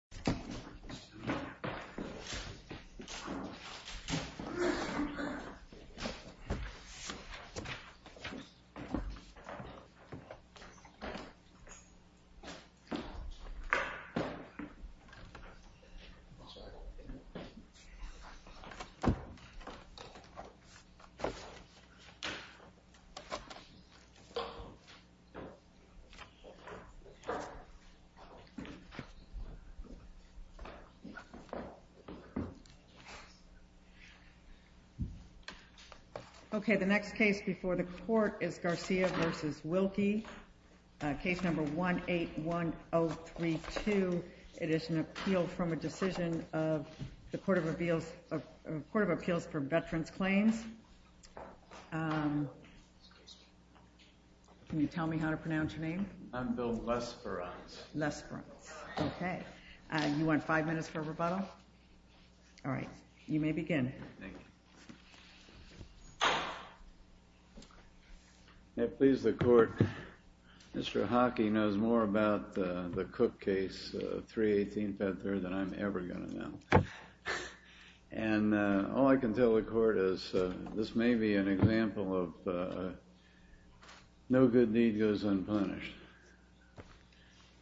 walks into the new apartment the next case before the court is Garcia vs. Wilkie, case number 181032, it is an appeal from a decision of the Court of Appeals for Veterans Claims, can you tell me how to pronounce your name? I'm Bill Lesperance. Okay, you want five minutes for rebuttal? All right, you may begin. May it please the Court, Mr. Hockey knows more about the Cook case, 318 Fed Third, than I'm ever going to know, and all I can tell the Court is this may be an unpunished.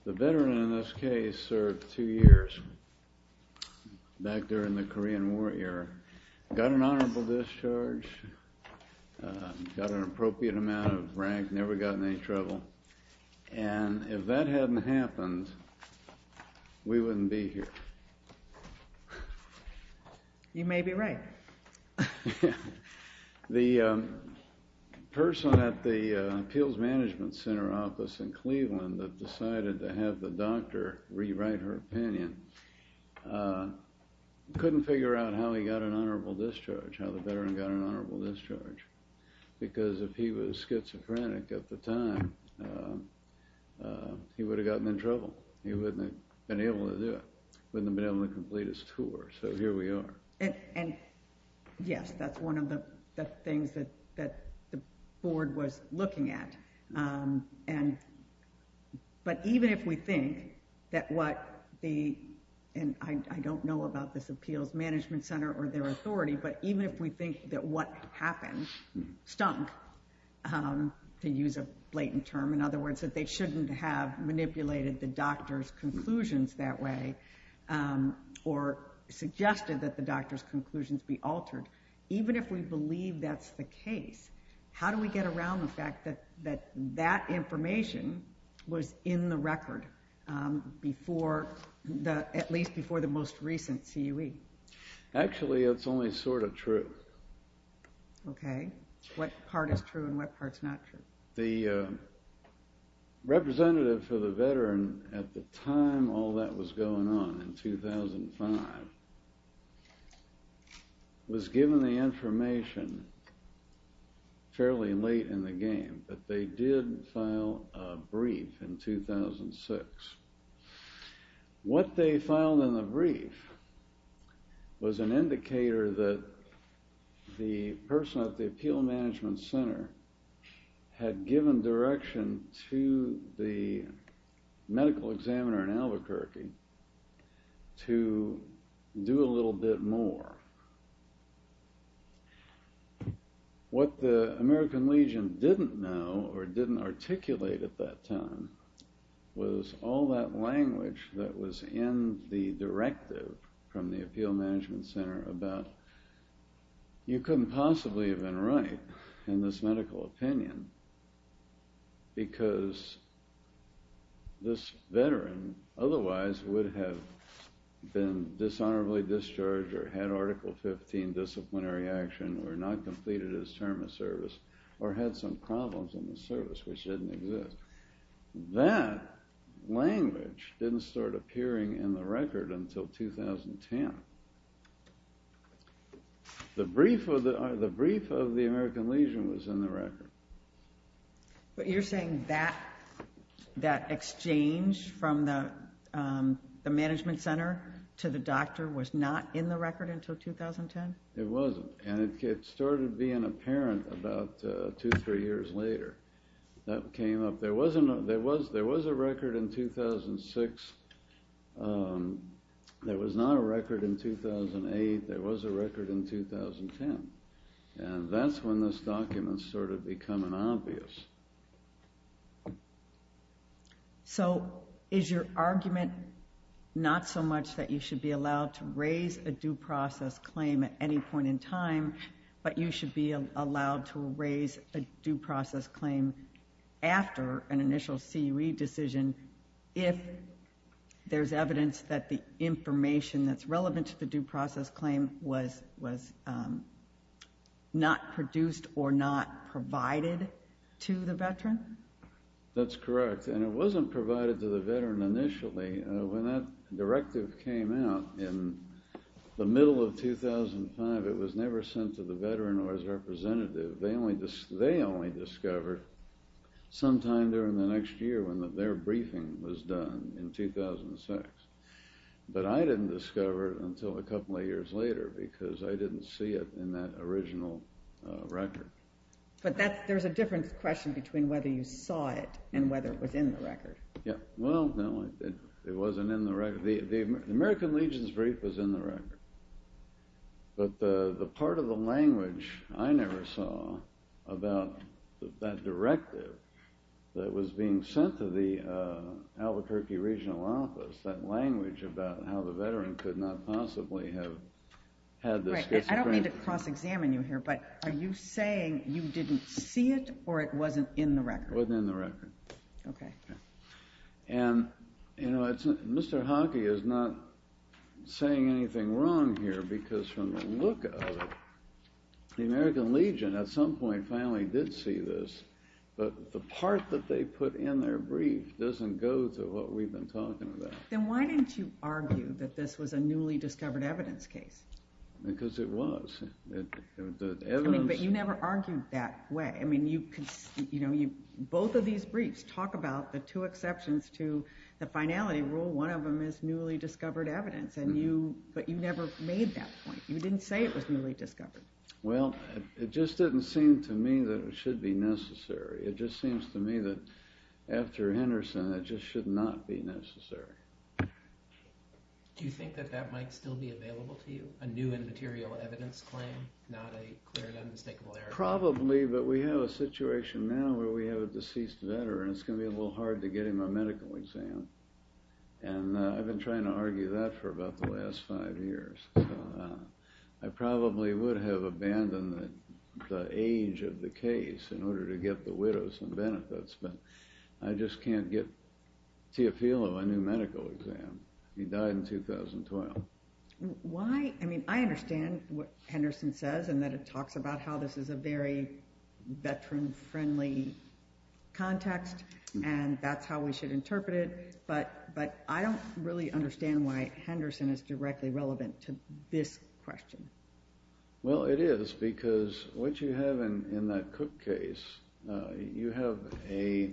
The veteran in this case served two years back during the Korean War era, got an honorable discharge, got an appropriate amount of rank, never got in any trouble, and if that hadn't happened, we wouldn't be here. You may be right. The person at the management center office in Cleveland that decided to have the doctor rewrite her opinion, couldn't figure out how he got an honorable discharge, how the veteran got an honorable discharge, because if he was schizophrenic at the time, he would have gotten in trouble. He wouldn't have been able to do it, wouldn't have been able to complete his tour, so here we are. And yes, that's one of the things that the Board was looking at, but even if we think that what the, and I don't know about this appeals management center or their authority, but even if we think that what happened, stunk, to use a blatant term, in other words, that they shouldn't have altered, even if we believe that's the case, how do we get around the fact that that information was in the record before, at least before the most recent CUE? Actually, it's only sort of true. Okay, what part is true and what part's not true? The representative for the veteran at the time all that was going on, in 2005, was given the information fairly late in the game, but they did file a brief in 2006. What they filed in the brief was an indicator that the person at the time was a medical examiner in Albuquerque to do a little bit more. What the American Legion didn't know or didn't articulate at that time was all that language that was in the directive from the appeal management center about you couldn't possibly have been right in this medical opinion because this veteran otherwise would have been dishonorably discharged or had article 15 disciplinary action or not completed his term of service or had some problems in the service, which didn't exist. That language didn't start appearing in the record until 2010. The brief of the American Legion was in the record. But you're saying that that exchange from the management center to the doctor was not in the record until 2010? It wasn't, and it started being apparent about two or three years later. There was a record in 2006. There was not a record in 2008. There was a record in 2010, and that's when this document started becoming obvious. So is your argument not so much that you should be allowed to raise a due process claim at any point in time, but you should be allowed to raise a due process claim after an initial CUE decision if there's evidence that the information that's relevant to the due process claim was not produced or not provided to the DOC? That's correct, and it wasn't provided to the veteran initially. When that directive came out in the middle of 2005, it was never sent to the veteran or his representative. They only discovered sometime during the next year when their briefing was done in 2006. But I didn't discover it until a couple of years later because I didn't see it in that original record. But there's a different question between whether you saw it and whether it was in the record. Well, no, it wasn't in the record. The American Legion's brief was in the record, but the part of the language I never saw about that directive that was being sent to the Albuquerque regional office, that language about how the veteran could not possibly have had this discipline. I don't mean to cross-examine you here, but are you saying you didn't see it or it wasn't in the record? It wasn't in the record. Okay. And, you know, Mr. Hockey is not saying anything wrong here because from the look of it, the American Legion at some point finally did see this, but the part that they put in their brief doesn't go to what we've been talking about. Then why didn't you argue that this was a newly discovered evidence case? Because it was. But you never argued that way. Both of these briefs talk about the two exceptions to the finality rule. One of them is newly discovered evidence, but you never made that point. You didn't say it was newly discovered. Well, it just didn't seem to me that it should be necessary. It just seems to me that after Henderson, it just should not be necessary. Do you think that that might still be available to you, a new and material evidence claim, not a clear and unmistakable error? Probably, but we have a situation now where we have a deceased veteran. It's going to be a little hard to get him a medical exam, and I've been trying to argue that for about the last five years. I probably would have abandoned the age of the case in order to get the widows some benefits, but I just can't get Teofilo a new medical exam. He died in 2012. I understand what Henderson says, and that it talks about how this is a very veteran-friendly context, and that's how we should interpret it, but I don't really understand why Henderson is directly relevant to this question. Well, it is, because what you have in that Cook case, you have a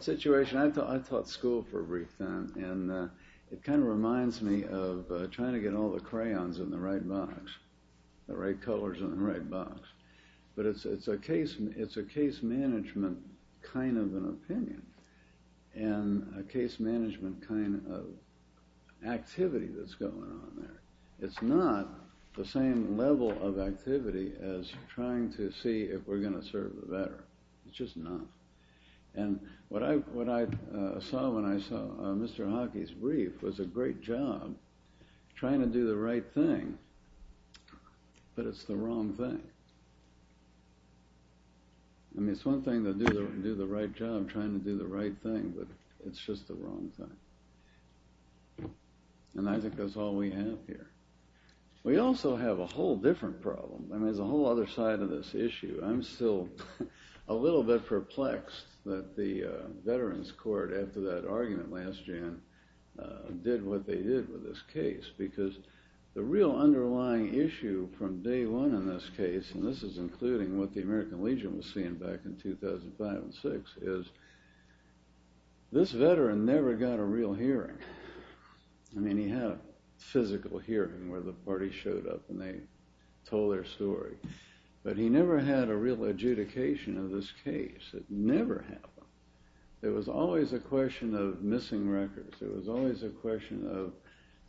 situation. I taught school for a brief time, and it kind of reminds me of trying to get all the crayons in the right box, the right colors in the right box. But it's a case management kind of an opinion, and a case management kind of activity that's going on there. It's not the same level of activity as trying to see if we're going to serve the veteran. It's just not. And what I saw when I saw Mr. Hockey's brief was a great job trying to do the right thing, but it's the wrong thing. I mean, it's one thing to do the right job trying to do the right thing, but it's just the wrong thing. And I think that's all we have here. We also have a whole different problem. I mean, there's a whole other side of this issue. I'm still a little bit perplexed that the Veterans Court, after that argument last year, did what they did with this case. Because the real underlying issue from day one in this case, and this is including what the American Legion was seeing back in 2005 and 2006, is this veteran never got a real hearing. I mean, he had a physical hearing where the party showed up and they told their story, but he never had a real adjudication of this case. It never happened. It was always a question of missing records. It was always a question of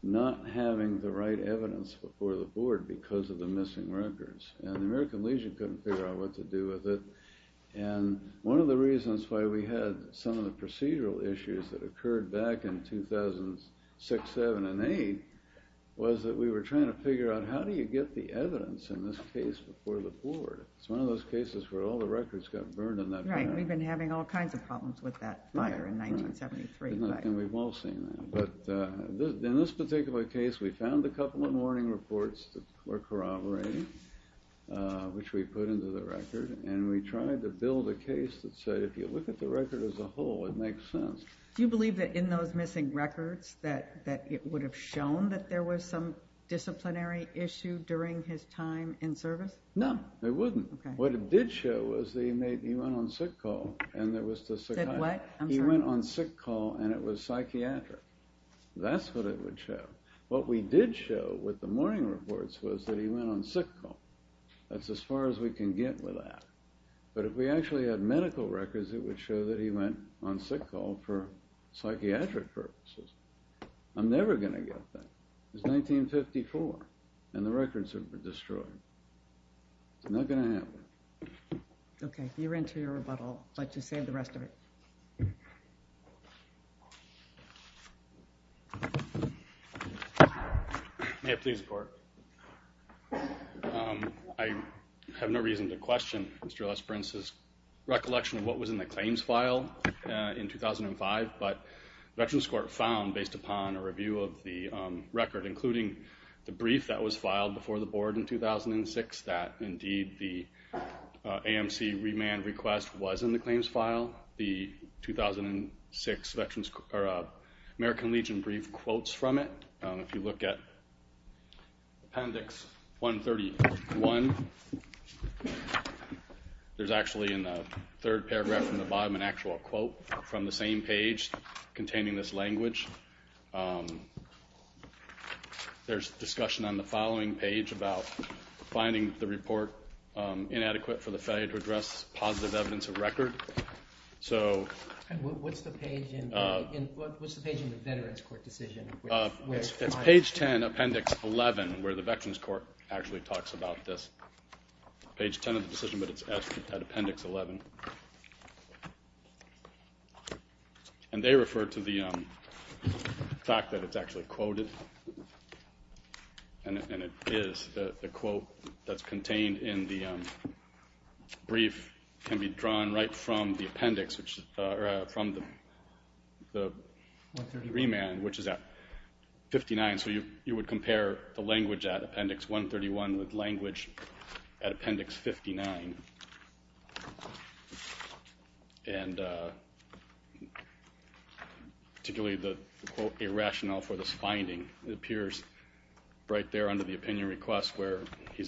not having the right evidence before the board because of the missing records. And the American Legion couldn't figure out what to do with it. And one of the reasons why we had some of the procedural issues that occurred back in 2006, 2007, and 2008 was that we were trying to figure out how do you get the evidence in this case before the board. It's one of those cases where all the records got burned in that panel. Right. We've been having all kinds of problems with that fire in 1973. And we've all seen that. But in this particular case, we found a couple of warning reports that were corroborating, which we put into the record. And we tried to build a case that said if you look at the record as a whole, it makes sense. Do you believe that in those missing records that it would have shown that there was some disciplinary issue during his time in service? No, it wouldn't. What it did show was that he went on sick call and it was psychiatric. That's what it would show. What we did show with the warning reports was that he went on sick call. That's as far as we can get with that. But if we actually had medical records, it would show that he went on sick call for psychiatric purposes. I'm never going to get that. It was 1954, and the records have been destroyed. It's not going to happen. OK, you're into your rebuttal. I'll let you say the rest of it. May I please report? I have no reason to question Mr. Lesprince's recollection of what was in the claims file in 2005. But Veterans Court found, based upon a review of the record, including the brief that was filed before the board in 2006, that indeed the AMC remand request was in the claims file. The 2006 American Legion brief quotes from it. If you look at Appendix 131, there's actually in the third paragraph from the bottom an actual quote from the same page containing this language. There's discussion on the following page about finding the report inadequate for the failure to address positive evidence of record. What's the page in the Veterans Court decision? It's page 10, Appendix 11, where the Veterans Court actually talks about this. It's page 10 of the decision, but it's at Appendix 11. And they refer to the fact that it's actually quoted, and it is. The quote that's contained in the brief can be drawn right from the remand, which is at 59. So you would compare the language at Appendix 131 with language at Appendix 59. And particularly the quote, a rationale for this finding, appears right there under the opinion request where the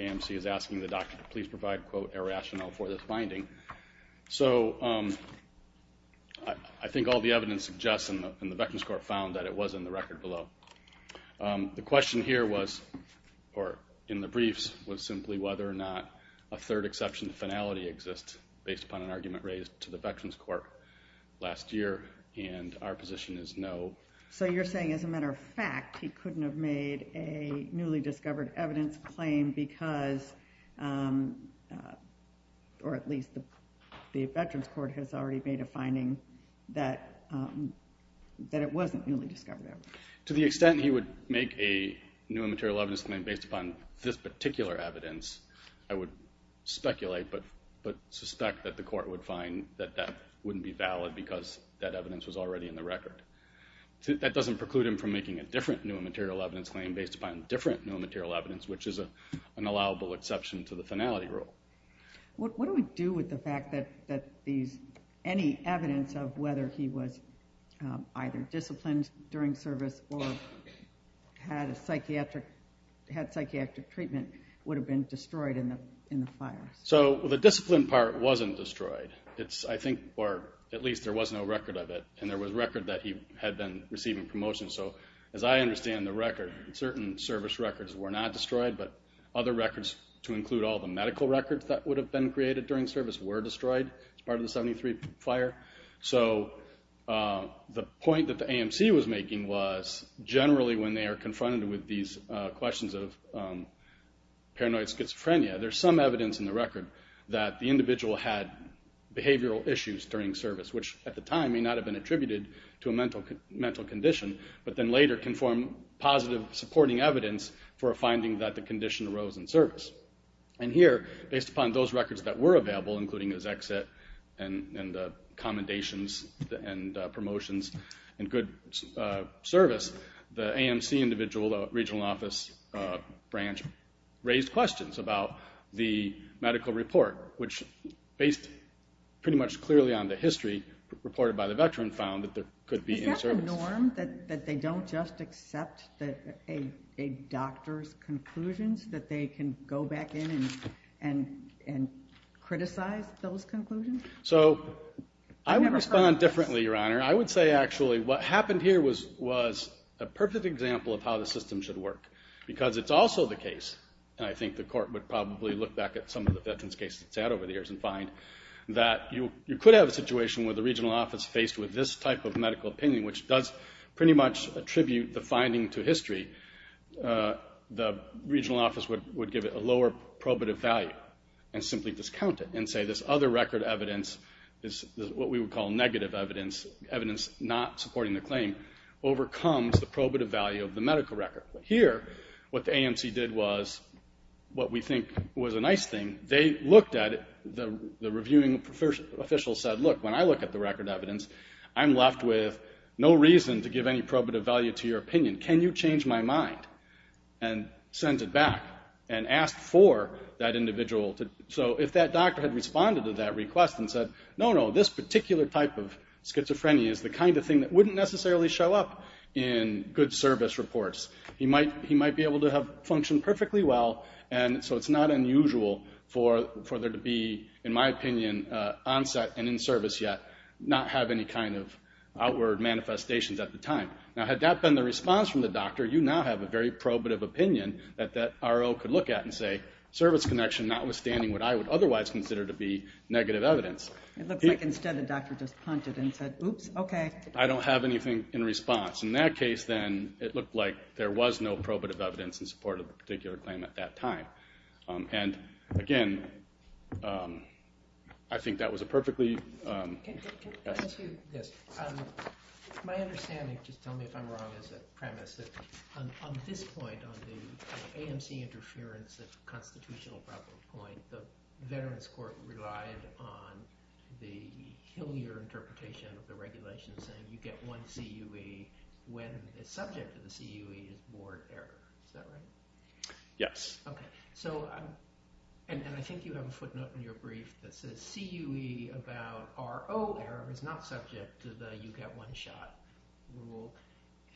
AMC is asking the doctor to please provide a rationale for this finding. So I think all the evidence suggests in the Veterans Court found that it was in the record below. The question here was, or in the briefs, was simply whether or not a third exception finality exists based upon an argument raised to the Veterans Court last year. And our position is no. So you're saying, as a matter of fact, he couldn't have made a newly discovered evidence claim because, or at least the Veterans Court has already made a finding that it wasn't newly discovered evidence. To the extent he would make a new immaterial evidence claim based upon this particular evidence, I would speculate, but suspect that the court would find that that wouldn't be valid because that evidence was already in the record. That doesn't preclude him from making a different new immaterial evidence claim based upon different new immaterial evidence, which is an allowable exception to the finality rule. What do we do with the fact that any evidence of whether he was either disciplined during service or had psychiatric treatment would have been destroyed in the fire? So the discipline part wasn't destroyed. I think, or at least there was no record of it, and there was record that he had been receiving promotion. So as I understand the record, certain service records were not destroyed, but other records to include all the medical records that would have been created during service were destroyed as part of the 73 fire. So the point that the AMC was making was generally when they are confronted with these questions of paranoid schizophrenia, there's some evidence in the record that the individual had behavioral issues during service, which at the time may not have been attributed to a mental condition, but then later can form positive supporting evidence for a finding that the condition arose in service. And here, based upon those records that were available, including his exit and commendations and promotions and good service, the AMC individual, the regional office branch, raised questions about the medical report, which based pretty much clearly on the history reported by the veteran, found that there could be... Is that the norm, that they don't just accept a doctor's conclusions, that they can go back in and criticize those conclusions? So I would respond differently, Your Honor. I would say actually what happened here was a perfect example of how the system should work, because it's also the case, and I think the court would probably look back at some of the veteran's cases it's had over the years and find, that you could have a situation where the regional office faced with this type of medical opinion, which does pretty much attribute the finding to history. The regional office would give it a lower probative value and simply discount it and say this other record evidence is what we would call negative evidence, evidence not supporting the claim, overcomes the probative value of the medical record. Here, what the AMC did was what we think was a nice thing. They looked at it. The reviewing official said, look, when I look at the record evidence, I'm left with no reason to give any probative value to your opinion. Can you change my mind? And sends it back and asks for that individual to... So if that doctor had responded to that request and said, no, no, this particular type of schizophrenia is the kind of thing that wouldn't necessarily show up in good service reports, he might be able to have functioned perfectly well, and so it's not unusual for there to be, in my opinion, onset and in service yet, not have any kind of outward manifestations at the time. Now, had that been the response from the doctor, you now have a very probative opinion that that RO could look at and say, service connection notwithstanding what I would otherwise consider to be negative evidence. It looks like instead the doctor just punted and said, oops, okay. I don't have anything in response. In that case, then, it looked like there was no probative evidence in support of the particular claim at that time. And, again, I think that was a perfectly... Can I ask you this? My understanding, just tell me if I'm wrong, is that premise that on this point, on the AMC interference, the constitutional problem point, the Veterans Court relied on the Hillier interpretation of the regulations and you get one CUE when the subject of the CUE is board error. Is that right? Yes. Okay. So, and I think you have a footnote in your brief that says CUE about RO error is not subject to the you get one shot rule.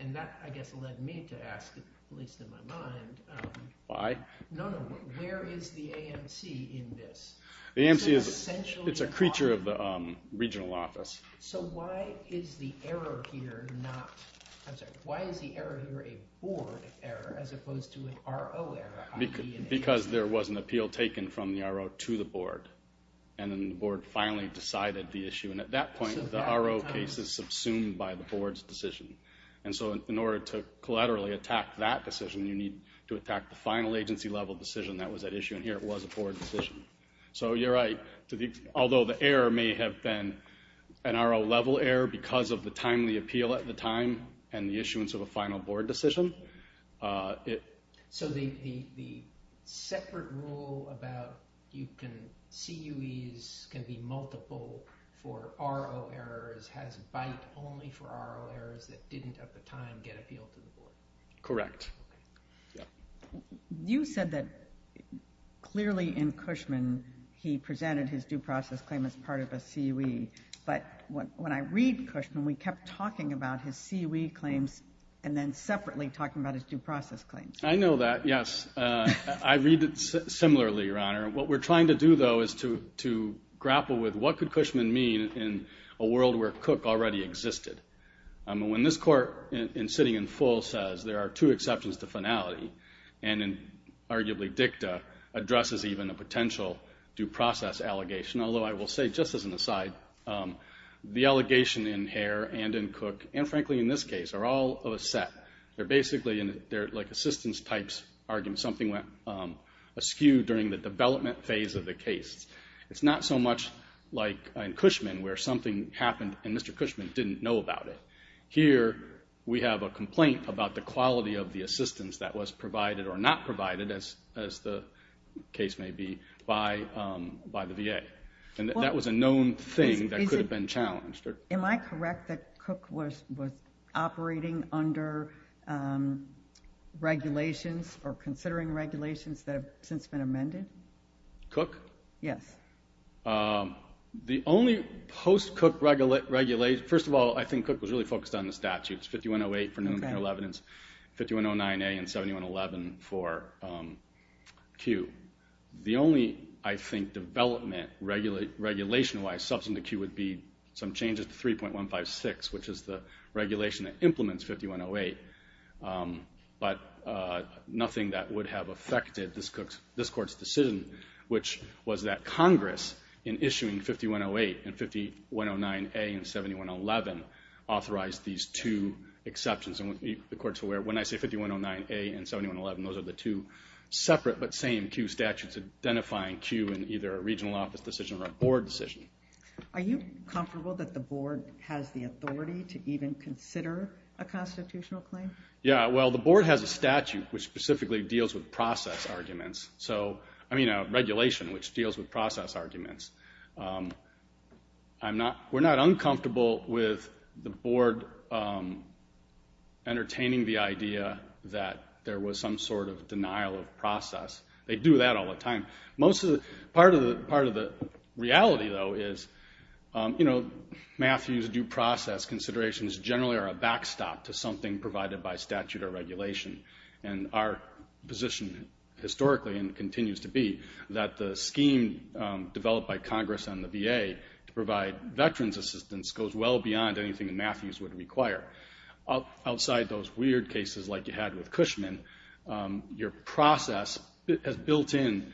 And that, I guess, led me to ask, at least in my mind... No, no. Where is the AMC in this? The AMC is a creature of the regional office. So why is the error here not... I'm sorry. Why is the error here a board error as opposed to an RO error? Because there was an appeal taken from the RO to the board. And then the board finally decided the issue. And at that point, the RO case is subsumed by the board's decision. And so in order to collaterally attack that decision, you need to attack the final agency level decision that was at issue. And here it was a board decision. So you're right. Although the error may have been an RO level error because of the timely appeal at the time and the issuance of a final board decision, it... The separate rule about CUEs can be multiple for RO errors has bite only for RO errors that didn't at the time get appealed to the board. Correct. You said that clearly in Cushman he presented his due process claim as part of a CUE. But when I read Cushman, we kept talking about his CUE claims and then separately talking about his due process claims. I know that, yes. I read it similarly, Your Honor. What we're trying to do, though, is to grapple with what could Cushman mean in a world where CUC already existed. When this court in sitting in full says there are two exceptions to finality, and in arguably dicta, addresses even a potential due process allegation. Although I will say, just as an aside, the allegation in Hare and in CUC, and frankly in this case, are all of a set. They're basically like assistance types arguments. Something went askew during the development phase of the case. It's not so much like in Cushman where something happened and Mr. Cushman didn't know about it. Here, we have a complaint about the quality of the assistance that was provided or not provided, as the case may be, by the VA. And that was a known thing that could have been challenged. Am I correct that CUC was operating under regulations or considering regulations that have since been amended? CUC? Yes. The only post-CUC regulation, first of all, I think CUC was really focused on the statutes, 5108 for new and current evidence, 5109A and 7111 for CUE. The only, I think, development, regulation-wise, substantive CUE would be some changes to 3.156, which is the regulation that implements 5108. But nothing that would have affected this Court's decision, which was that Congress, in issuing 5108 and 5109A and 7111, authorized these two exceptions. And the Court's aware, when I say 5109A and 7111, those are the two separate but same CUE statutes identifying CUE in either a regional office decision or a board decision. Are you comfortable that the board has the authority to even consider a constitutional claim? Yeah, well, the board has a statute which specifically deals with process arguments. So, I mean, a regulation which deals with process arguments. We're not uncomfortable with the board entertaining the idea that there was some sort of denial of process. They do that all the time. Part of the reality, though, is Matthew's due process considerations generally are a backstop to something provided by statute or regulation. And our position, historically, and continues to be, that the scheme developed by Congress on the VA to provide veterans' assistance goes well beyond anything Matthew's would require. Outside those weird cases like you had with Cushman, your process has built in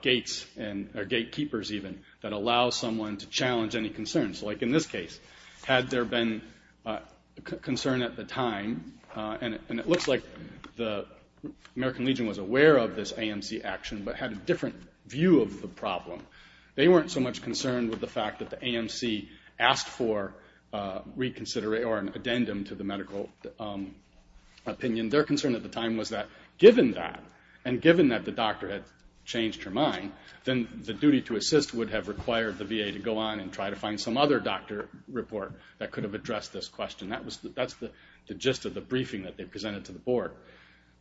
gates, or gatekeepers even, that allow someone to challenge any concerns. Like in this case, had there been concern at the time, and it looks like the American Legion was aware of this AMC action but had a different view of the problem. They weren't so much concerned with the fact that the AMC asked for reconsideration or an addendum to the medical opinion. Their concern at the time was that given that, and given that the doctor had changed her mind, then the duty to assist would have required the VA to go on and try to find some other doctor report that could have addressed this question. That's the gist of the briefing that they presented to the board.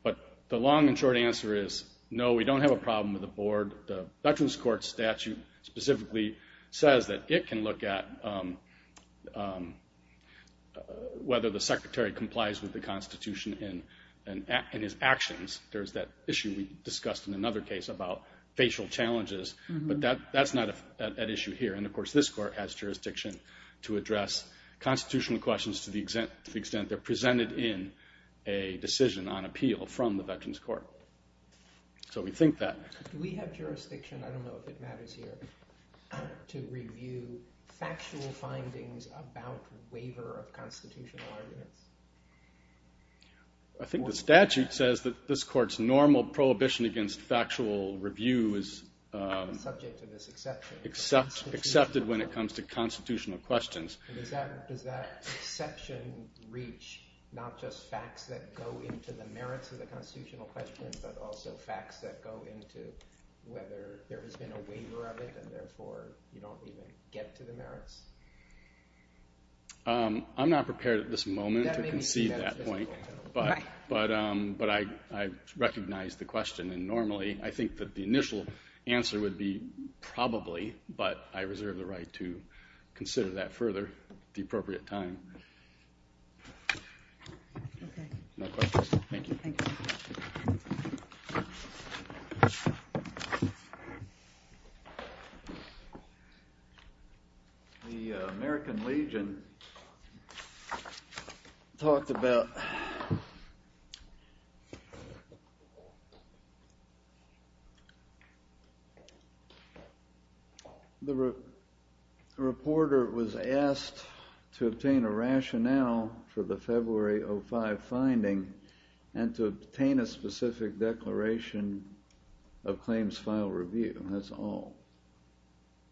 But the long and short answer is, no, we don't have a problem with the board. The veterans' court statute specifically says that it can look at whether the secretary complies with the Constitution in his actions. There's that issue we discussed in another case about facial challenges, but that's not an issue here. Of course, this court has jurisdiction to address constitutional questions to the extent they're presented in a decision on appeal from the veterans' court. Do we have jurisdiction, I don't know if it matters here, to review factual findings about waiver of constitutional arguments? I think the statute says that this court's normal prohibition against factual review is accepted when it comes to constitutional questions. Does that exception reach not just facts that go into the merits of the constitutional questions, but also facts that go into whether there has been a waiver of it and therefore you don't even get to the merits? I'm not prepared at this moment to concede that point. But I recognize the question and normally I think that the initial answer would be probably, but I reserve the right to consider that further at the appropriate time. Okay. No questions. Thank you. Thank you. Thank you. The American Legion talked about... The reporter was asked to obtain a rationale for the February 2005 finding and to obtain a specific declaration of claims file review, that's all.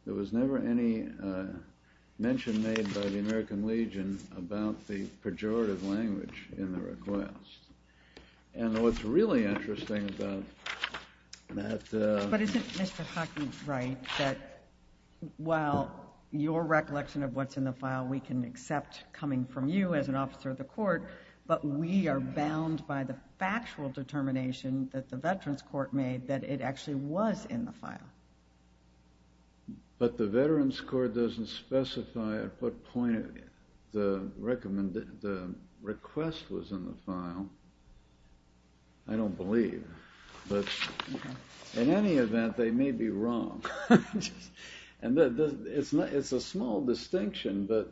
There was never any mention made by the American Legion about the pejorative language in the request. And what's really interesting about that... But isn't Mr. Hockney right that while your recollection of what's in the file we can accept coming from you as an officer of the court, but we are bound by the factual determination that the Veterans Court made that it actually was in the file? But the Veterans Court doesn't specify at what point the request was in the file. I don't believe. In any event, they may be wrong. It's a small distinction, but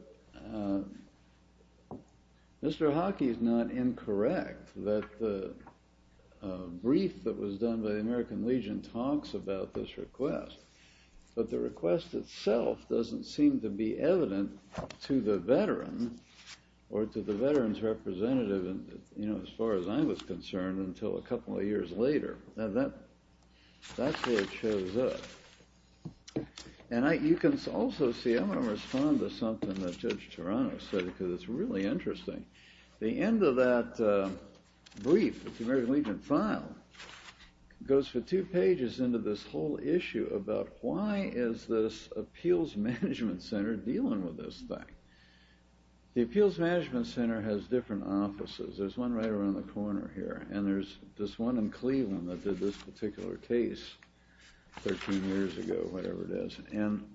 Mr. Hockney is not incorrect that the brief that was done by the American Legion talks about this request. But the request itself doesn't seem to be evident to the veteran or to the veterans representative as far as I was concerned until a couple of years later. That's where it shows up. And you can also see... I'm going to respond to something that Judge Tarano said because it's really interesting. The end of that brief that the American Legion filed goes for two pages into this whole issue about why is this Appeals Management Center dealing with this thing? The Appeals Management Center has different offices. There's one right around the corner here. And there's this one in Cleveland that did this particular case 13 years ago, whatever it is. And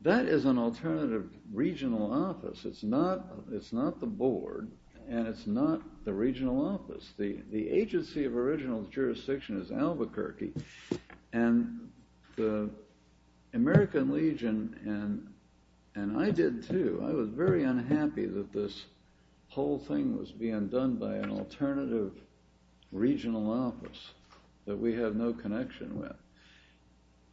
that is an alternative regional office. It's not the board, and it's not the regional office. The agency of original jurisdiction is Albuquerque. And the American Legion, and I did too, I was very unhappy that this whole thing was being done by an alternative regional office that we have no connection with.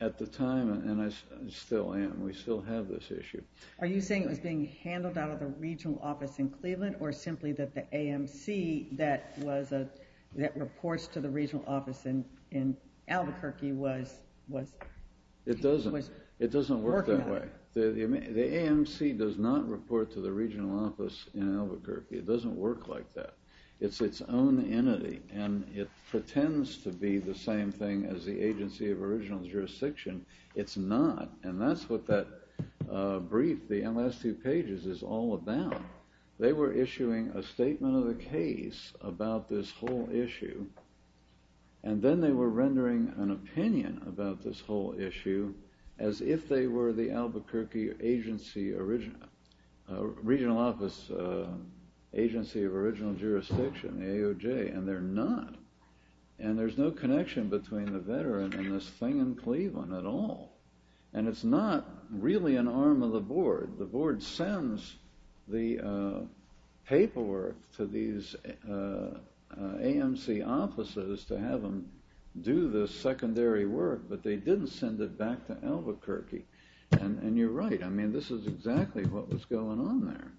At the time, and I still am, we still have this issue. Are you saying it was being handled out of the regional office in Cleveland or simply that the AMC that reports to the regional office in Albuquerque was working on it? It doesn't work that way. The AMC does not report to the regional office in Albuquerque. It doesn't work like that. It's its own entity, and it pretends to be the same thing as the agency of original jurisdiction. It's not, and that's what that brief, the last two pages, is all about. They were issuing a statement of the case about this whole issue, and then they were rendering an opinion about this whole issue as if they were the Albuquerque regional office agency of original jurisdiction, AOJ. And they're not. And there's no connection between the veteran and this thing in Cleveland at all. And it's not really an arm of the board. The board sends the paperwork to these AMC offices to have them do the secondary work, but they didn't send it back to Albuquerque. And you're right. I mean, this is exactly what was going on there.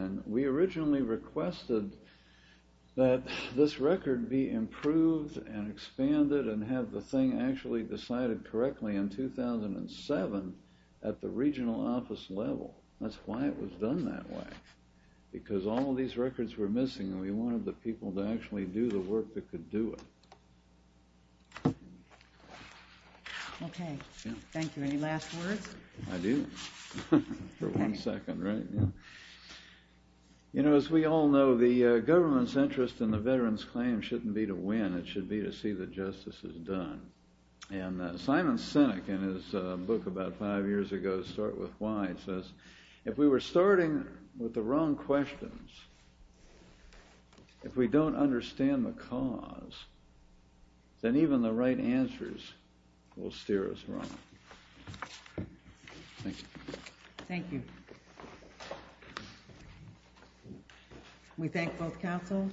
And we originally requested that this record be improved and expanded and have the thing actually decided correctly in 2007 at the regional office level. That's why it was done that way, because all of these records were missing, and we wanted the people to actually do the work that could do it. Okay. Thank you. Any last words? I do. For one second, right? You know, as we all know, the government's interest in the veterans' claim shouldn't be to win. It should be to see that justice is done. And Simon Sinek, in his book about five years ago, Start With Why, says, if we were starting with the wrong questions, if we don't understand the cause, then even the right answers will steer us wrong. Thank you. Thank you. We thank both councils.